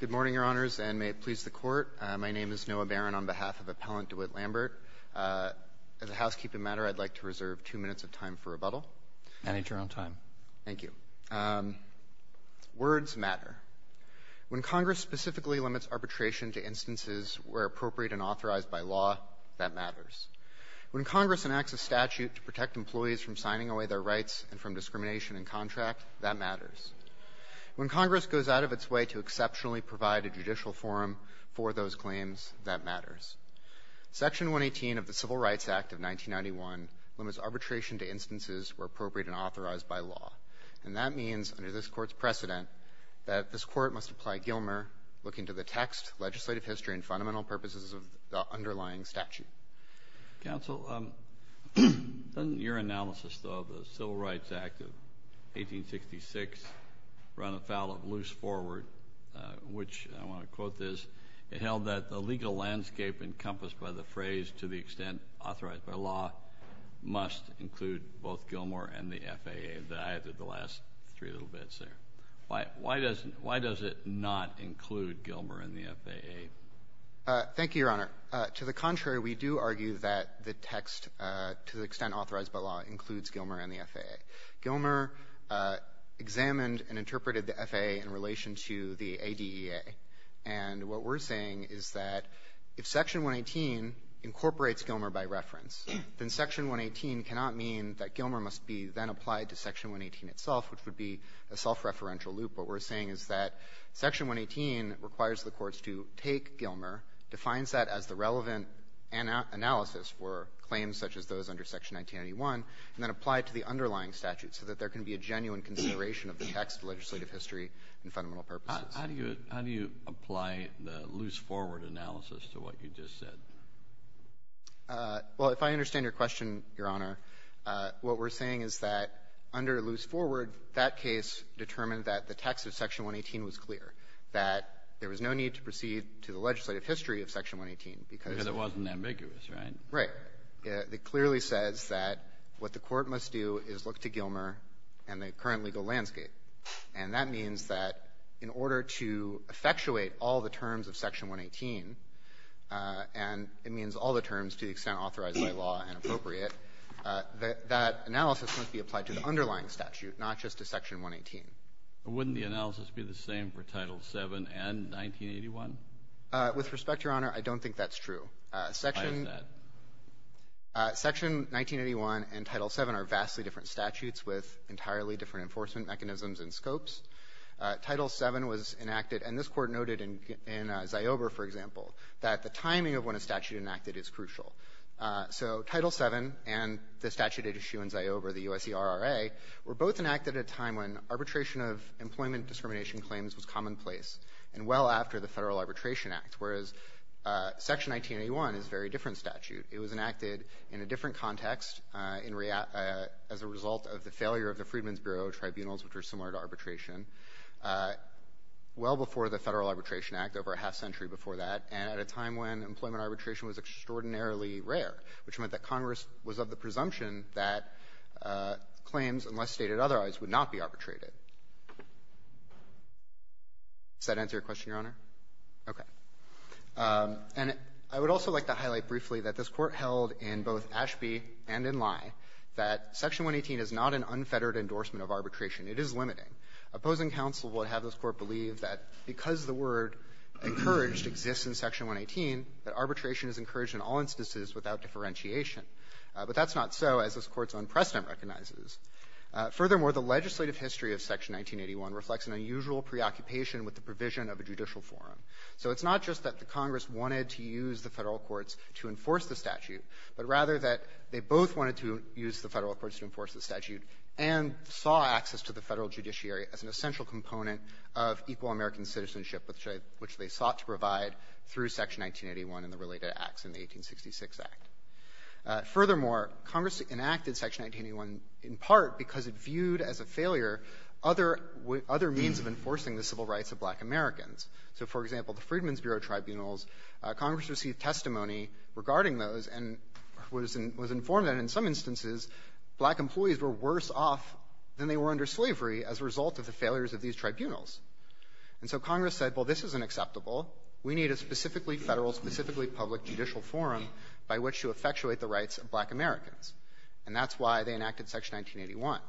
Good morning, Your Honors, and may it please the Court, my name is Noah Barron on behalf of Appellant DeWitt Lambert. As a housekeeping matter, I'd like to reserve two minutes of time for rebuttal. Manager on time. Thank you. Words matter. When Congress specifically limits arbitration to instances where appropriate and authorized by law, that matters. When Congress enacts a statute to protect employees from signing away their rights and from discrimination in contract, that matters. When Congress goes out of its way to exceptionally provide a judicial forum for those claims, that matters. Section 118 of the Civil Rights Act of 1991 limits arbitration to instances where appropriate and authorized by law, and that means, under this Court's precedent, that this Court must apply Gilmer, looking to the text, legislative history, and fundamental purposes of the underlying statute. Counsel, doesn't your analysis, though, of the Civil Rights Act of 1866 run afoul of loose forward, which, I want to quote this, it held that the legal landscape encompassed by the phrase, to the extent authorized by law, must include both Gilmer and the FAA. I added the last three little bits there. Why does it not include Gilmer and the FAA? Thank you, Your Honor. To the contrary, we do argue that the text, to the extent authorized by law, includes Gilmer and the FAA. Gilmer examined and interpreted the FAA in relation to the ADEA. And what we're saying is that if Section 118 incorporates Gilmer by reference, then Section 118 cannot mean that Gilmer must be then applied to Section 118 itself, which would be a self-referential loop. What we're saying is that Section 118 requires the courts to take Gilmer, defines that as the relevant analysis for claims such as those under Section 1981, and then apply it to the underlying statute so that there can be a genuine consideration of the text, legislative history, and fundamental purposes. How do you apply the loose forward analysis to what you just said? Well, if I understand your question, Your Honor, what we're saying is that under loose forward, that case determined that the text of Section 118 was clear, that there was no need to proceed to the legislative history of Section 118 because it wasn't ambiguous, right? Right. It clearly says that what the Court must do is look to Gilmer and the current legal landscape. And that means that in order to effectuate all the terms of Section 118, and it means all the terms to the extent authorized by law and appropriate, that that analysis must be applied to the underlying statute, not just to Section 118. Wouldn't the analysis be the same for Title VII and 1981? With respect, Your Honor, I don't think that's true. Why is that? Section 1981 and Title VII are vastly different statutes with entirely different enforcement mechanisms and scopes. Title VII was enacted, and this Court noted in Ziober, for example, that the timing of when a statute enacted is crucial. So Title VII and the statute at issue in Ziober, the U.S.C.R.R.A., were both enacted at a time when arbitration of employment discrimination claims was commonplace and well after the Federal Arbitration Act, whereas Section 1981 is a very different statute. It was enacted in a different context as a result of the failure of the Freedmen's Bureau tribunals, which are similar to arbitration, well before the Federal Arbitration Act, over a half-century before that, and at a time when employment arbitration was extraordinarily rare, which meant that Congress was of the presumption that claims, unless stated otherwise, would not be arbitrated. Does that answer your question, Your Honor? Okay. And I would also like to highlight briefly that this Court held in both Ashby and in Lye that Section 118 is not an unfettered endorsement of arbitration. It is limiting. Opposing counsel would have this Court believe that because the word encouraged exists in Section 118, that arbitration is encouraged in all instances without differentiation. But that's not so, as this Court's own precedent recognizes. Furthermore, the legislative history of Section 1981 reflects an unusual preoccupation with the provision of a judicial forum. So it's not just that the Congress wanted to use the Federal courts to enforce the statute, but rather that they both wanted to use the Federal courts to enforce the statute and saw access to the Federal judiciary as an essential component of equal American citizenship, which they sought to provide through Section 1981 and the related acts in the 1866 Act. Furthermore, Congress enacted Section 1981 in part because it viewed as a failure other means of enforcing the civil rights of black Americans. So, for example, the Freedmen's Bureau tribunals, Congress received testimony regarding those and was informed that in some instances, black employees were worse off than they were under slavery as a result of the failures of these tribunals. And so Congress said, well, this is unacceptable. We need a specifically Federal, specifically public judicial forum by which to effectuate the rights of black Americans. And that's why they enacted Section 1981.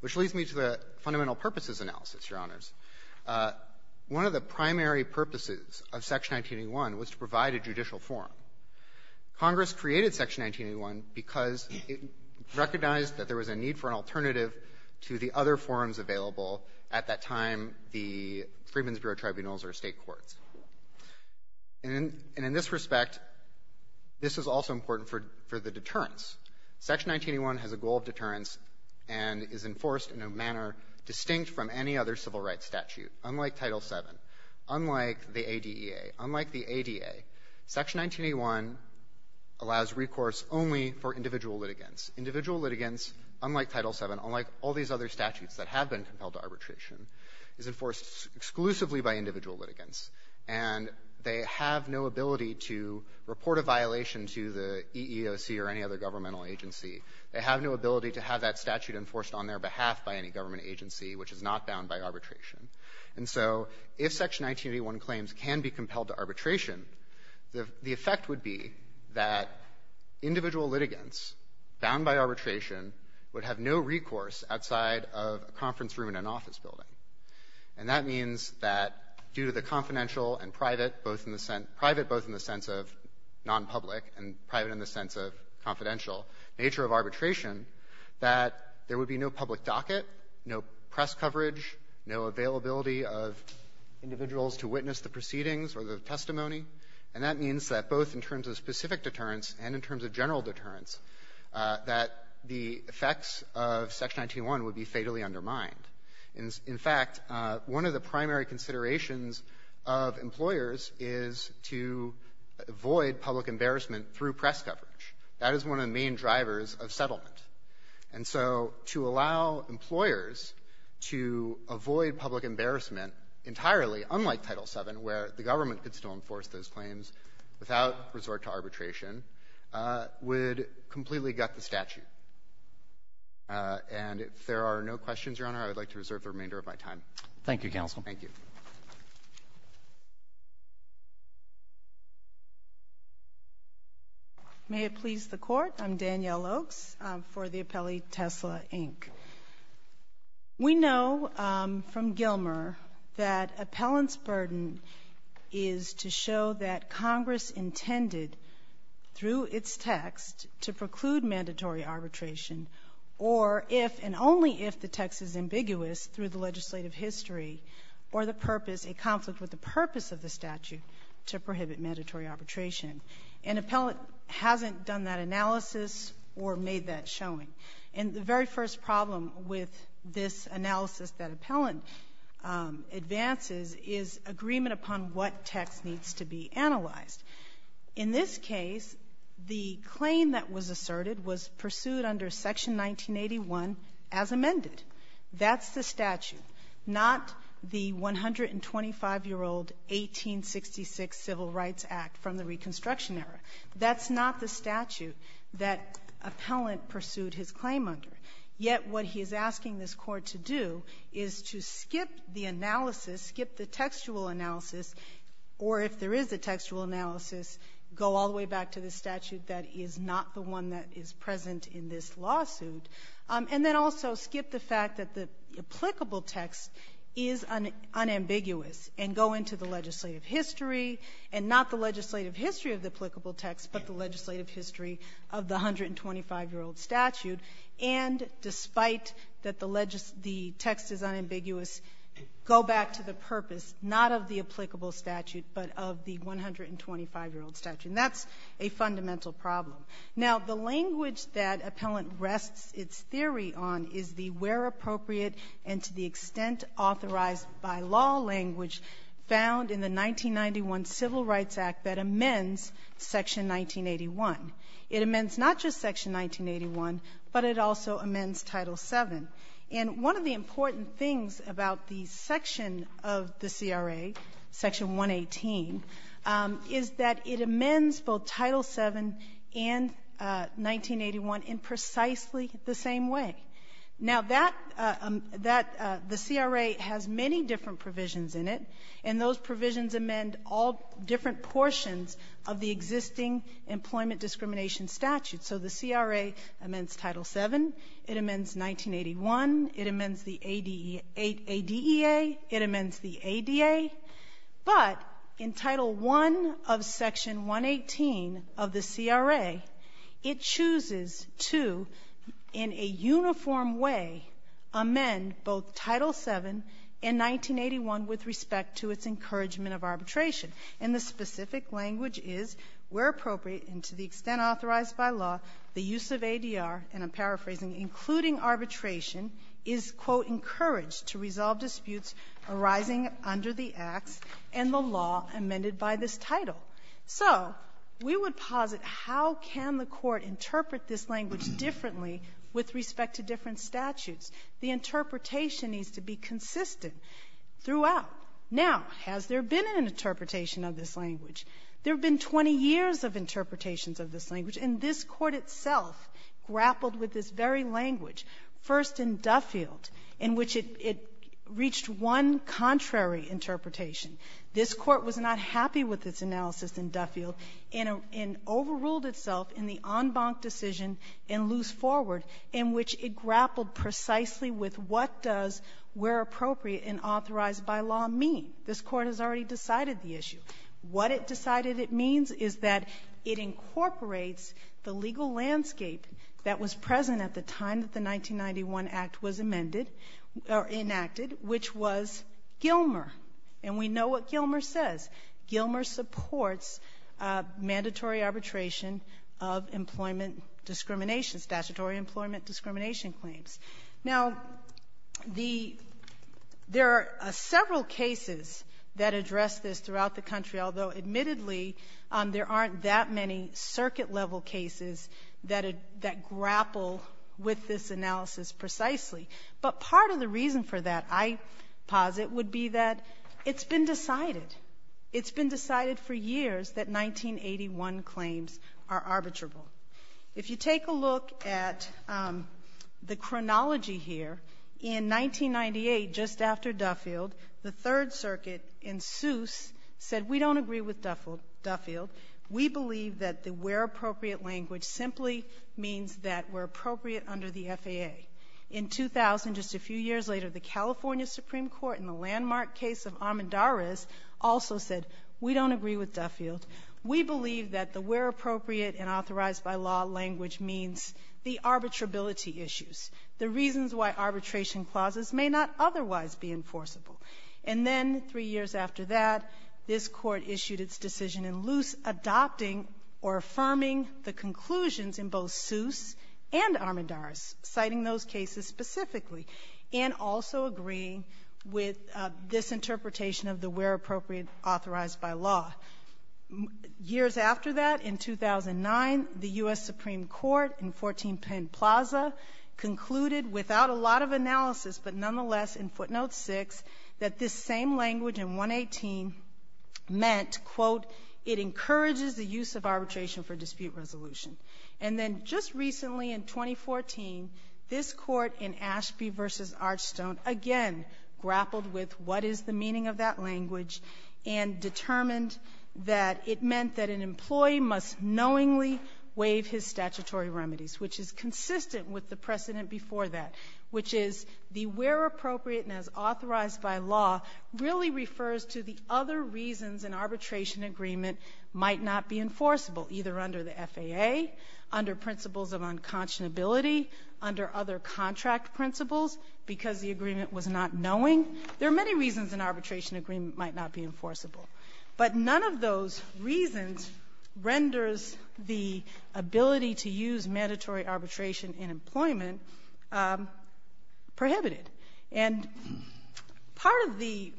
Which leads me to the fundamental purposes analysis, Your Honors. One of the primary purposes of Section 1981 was to provide a judicial forum. Congress created Section 1981 because it recognized that there was a need for an alternative to the other forums available at that time, the Freedmen's Bureau tribunals or State courts. And in this respect, this is also important for the deterrence. Section 1981 has a goal of deterrence and is enforced in a manner distinct from any other civil rights statute. Unlike Title VII, unlike the ADEA, unlike the ADA, Section 1981 allows recourse only for individual litigants. Individual litigants, unlike Title VII, unlike all these other statutes that have been compelled to arbitration, is enforced exclusively by individual litigants, and they have no ability to report a violation to the EEOC or any other governmental agency. They have no ability to have that statute enforced on their behalf by any government agency, which is not bound by arbitration. And so if Section 1981 claims can be compelled to arbitration, the effect would be that individual litigants bound by arbitration would have no recourse outside of a conference room in an office building. And that means that due to the confidential and private, both in the sense of nonpublic and private in the sense of confidential nature of arbitration, that there would be no public docket, no press coverage, no availability of individuals to witness the proceedings or the testimony. And that means that both in terms of specific deterrence and in terms of general deterrence, that the effects of Section 1981 would be fatally undermined. In fact, one of the primary considerations of employers is to avoid public embarrassment through press coverage. That is one of the main drivers of settlement. And so to allow employers to avoid public embarrassment entirely, unlike Title VII, where the government could still enforce those claims without resort to arbitration, would completely gut the statute. And if there are no questions, Your Honor, I would like to reserve the remainder of my time. Roberts. Thank you, counsel. Goldstein. Thank you. Oaks. May it please the Court. I'm Danielle Oaks for the appellee, Tesla, Inc. We know from Gilmer that appellant's burden is to show that Congress intended through its text to preclude mandatory arbitration or if, and only if, the text is ambiguous through the legislative history or the purpose, a conflict with the purpose of the statute, to prohibit mandatory arbitration. An appellant hasn't done that analysis or made And the very first problem with this analysis that appellant advances is agreement upon what text needs to be analyzed. In this case, the claim that was asserted was pursued under Section 1981 as amended. That's the statute, not the 125-year-old 1866 Civil Rights Act from the Reconstruction era. That's not the statute that appellant pursued his claim under. Yet what he's asking this Court to do is to skip the analysis, skip the textual analysis, or if there is a textual analysis, go all the way back to the statute that is not the one that is present in this lawsuit, and then also skip the fact that the applicable text is unambiguous and go into the legislative history, and not the legislative history of the applicable text, but the legislative history of the 125-year-old statute, and despite that the text is unambiguous, go back to the purpose, not of the applicable statute, but of the 125-year-old statute. And that's a fundamental problem. Now, the language that appellant found in the 1991 Civil Rights Act that amends Section 1981. It amends not just Section 1981, but it also amends Title VII. And one of the important things about the section of the CRA, Section 118, is that it amends both Title VII and 1981 in precisely the same way. Now, that the CRA has many different provisions in it, and those provisions amend all different portions of the existing employment discrimination statute. So the CRA amends Title VII, it amends 1981, it amends the ADEA, it amends the ADA, but in Title I of Section 118 of the CRA, it chooses to, in a uniform way, amend both Title VII and 1981 with respect to its encouragement of arbitration. And the specific language is, where appropriate and to the extent authorized by law, the use of ADR, and I'm paraphrasing, including arbitration, is, quote, encouraged to resolve disputes arising under the acts and the law amended by this title. So we would posit how can the Court interpret this language differently with respect to different statutes? The interpretation needs to be consistent throughout. Now, has there been an interpretation of this language? There have been 20 years of interpretations of this language, and this Court itself grappled with this very language, first in Duffield, in which it reached one contrary interpretation. This Court was not happy with its analysis in Duffield and overruled itself in the Duffield case. It grappled precisely with what does where appropriate and authorized by law mean. This Court has already decided the issue. What it decided it means is that it incorporates the legal landscape that was present at the time that the 1991 Act was amended or enacted, which was Gilmer. And we know what Gilmer says. Gilmer supports mandatory arbitration of employment discrimination, statutory employment discrimination claims. Now, the — there are several cases that address this throughout the country, although, admittedly, there aren't that many circuit-level cases that grapple with this analysis precisely. But part of the reason for that, I posit, would be that it's been decided. It's been decided for years that 1981 claims are arbitrable. If you take a look at the chronology here, in 1998, just after Duffield, the Third Circuit in Seuss said, we don't agree with Duffield. We believe that the where appropriate language simply means that we're appropriate under the FAA. In 2000, just a few years later, the California Supreme Court in the landmark case of Armendariz also said, we don't agree with Duffield. We believe that the where appropriate and authorized by law language means the arbitrability issues, the reasons why arbitration clauses may not otherwise be enforceable. And then three years after that, this Court issued its decision in Luce adopting or affirming the conclusions in both Seuss and Armendariz, citing those cases specifically, and also agreeing with this interpretation of the where appropriate authorized by law. Years after that, in 2009, the U.S. Supreme Court in 14 Penn Plaza concluded without a lot of analysis, but nonetheless in footnote 6, that this same language in 118 meant, quote, it encourages the use of arbitration for dispute resolution. And then just recently in 2014, this Court in Ashby v. Archstone again grappled with what is the meaning of that language and determined that it meant that an employee must knowingly waive his statutory remedies, which is consistent with the precedent before that, which is the where appropriate and as authorized by law really refers to the other reasons an arbitration agreement might not be enforceable, either under the FAA, under principles of unconscionability, under other contract principles because the agreement was not knowing. There are many reasons an arbitration agreement might not be enforceable, but none of those reasons renders the ability to use mandatory arbitration in employment prohibited. And part of the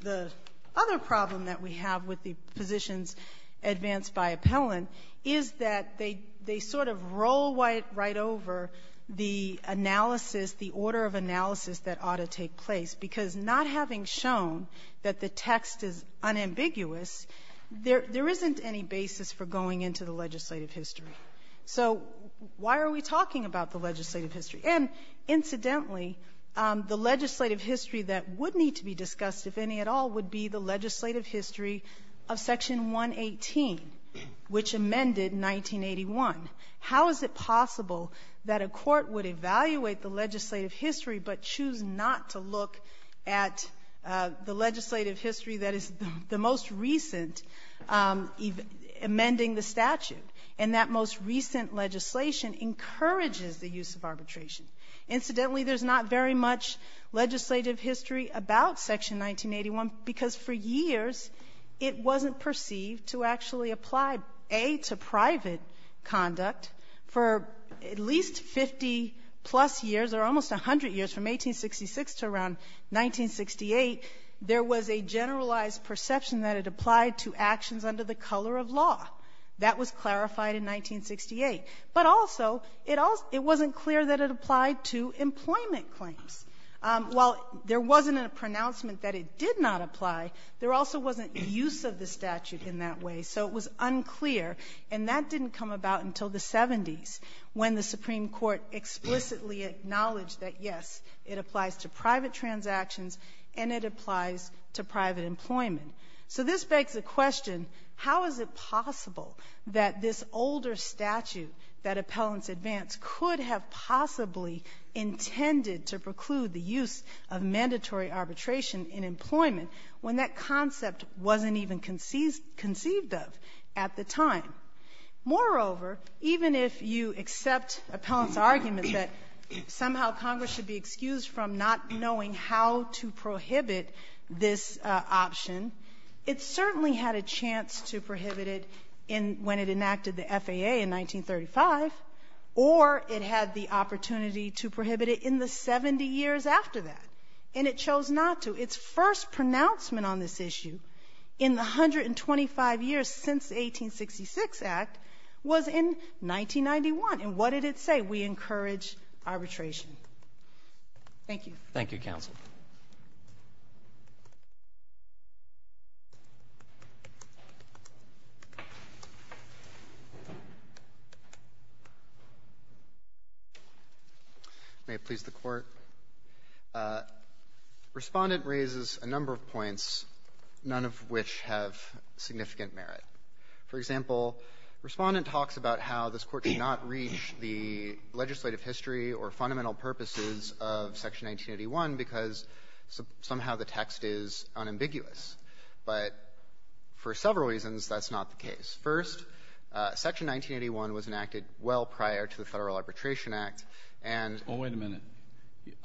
other problem that we have with the positions advanced by Appellant is that they sort of roll right over the analysis, the order of analysis that ought to take place, because not having shown that the text is unambiguous, there isn't any basis for going into the legislative history. So why are we talking about the legislative history? And, incidentally, the legislative history that would need to be discussed, if any at all, would be the legislative history of Section 118, which amended in 1981. How is it possible that a court would evaluate the legislative history but choose not to look at the legislative history that is the most recent amending the statute and that most recent legislation encourages the use of arbitration? Incidentally, there's not very much legislative history about Section 1981 because for years it wasn't perceived to actually apply, A, to private conduct. For at least 50-plus years, or almost 100 years, from 1866 to around 1968, there was a generalized perception that it applied to actions under the color of law. That was clarified in 1968. But also, it wasn't clear that it applied to employment claims. While there wasn't a pronouncement that it did not apply, there also wasn't use of the statute in that way. So it was unclear, and that didn't come about until the 70s when the Supreme Court explicitly acknowledged that, yes, it applies to private transactions and it applies to private employment. So this begs the question, how is it possible that this older statute that appellants advance could have possibly intended to preclude the use of mandatory arbitration in employment when that concept wasn't even conceived of at the time? Moreover, even if you accept appellants' argument that somehow Congress should be excused from not knowing how to prohibit this option, it certainly had a chance to prohibit it when it enacted the FAA in 1935, or it had the opportunity to prohibit it in the 70 years after that. And it chose not to. Its first pronouncement on this issue in the 125 years since the 1866 Act was in 1991. And what did it say? We encourage arbitration. Thank you. Roberts. Thank you, counsel. May it please the Court. Respondent raises a number of points, none of which have significant merit. For example, Respondent talks about how this Court cannot reach the legislative history or fundamental purposes of Section 1981 because somehow the text is unambiguous. But for several reasons, that's not the case. First, Section 1981 was enacted well prior to the Federal Arbitration Act, and the Federal Arbitration Act was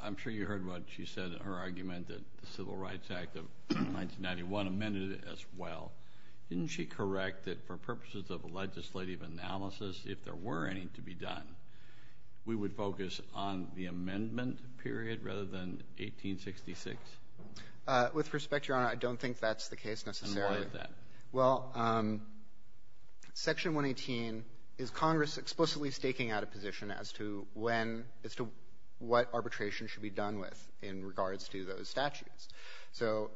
enacted prior to the Federal Arbitration Act. So if we were to do a legislative analysis, if there were any to be done, we would focus on the amendment period rather than 1866? With respect, Your Honor, I don't think that's the case necessarily. And why is that? Well, Section 118 is Congress explicitly staking out a position as to when, as to what arbitration should be done with in regards to those statutes. So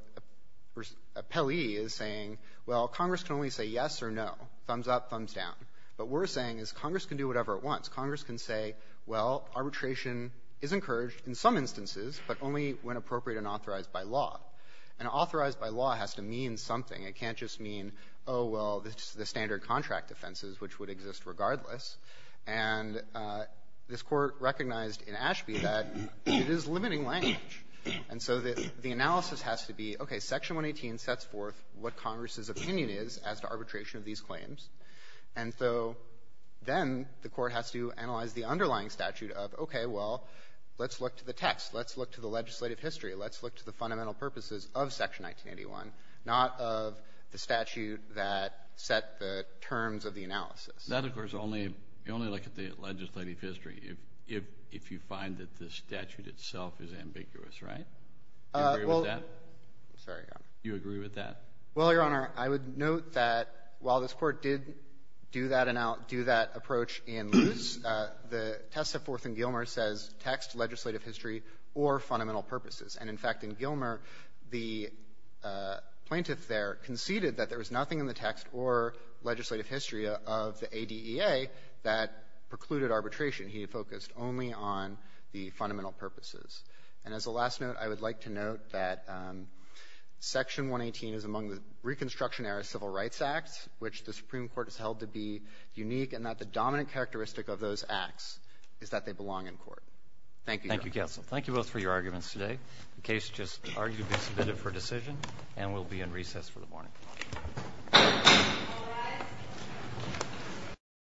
Pelley is saying, well, Congress can only say yes or no, thumbs up, thumbs down. But we're saying is Congress can do whatever it wants. Congress can say, well, arbitration is encouraged in some instances, but only when appropriate and authorized by law. And authorized by law has to mean something. It can't just mean, oh, well, the standard contract offenses, which would exist regardless. And this Court recognized in Ashby that it is limiting language. And so the analysis has to be, okay, Section 118 sets forth what Congress's opinion is as to arbitration of these claims. And so then the Court has to analyze the underlying statute of, okay, well, let's look to the text. Let's look to the legislative history. Let's look to the fundamental purposes of Section 1981, not of the statute that set the terms of the analysis. Kennedy, that, of course, only look at the legislative history. If you find that the statute itself is ambiguous, right? Do you agree with that? I'm sorry, Your Honor. Do you agree with that? Well, Your Honor, I would note that while this Court did do that and out do that approach in Luce, the test set forth in Gilmer says text, legislative history, or fundamental purposes. And in fact, in Gilmer, the plaintiff there conceded that there was nothing in the text or legislative history of the ADEA that precluded arbitration. He focused only on the fundamental purposes. And as a last note, I would like to note that Section 118 is among the Reconstruction Era Civil Rights Acts, which the Supreme Court has held to be unique, and that the dominant characteristic of those acts is that they belong in court. Thank you, Your Honor. Thank you, counsel. Thank you both for your arguments today. The case just argued to be submitted for decision and will be in recess for the morning. All rise.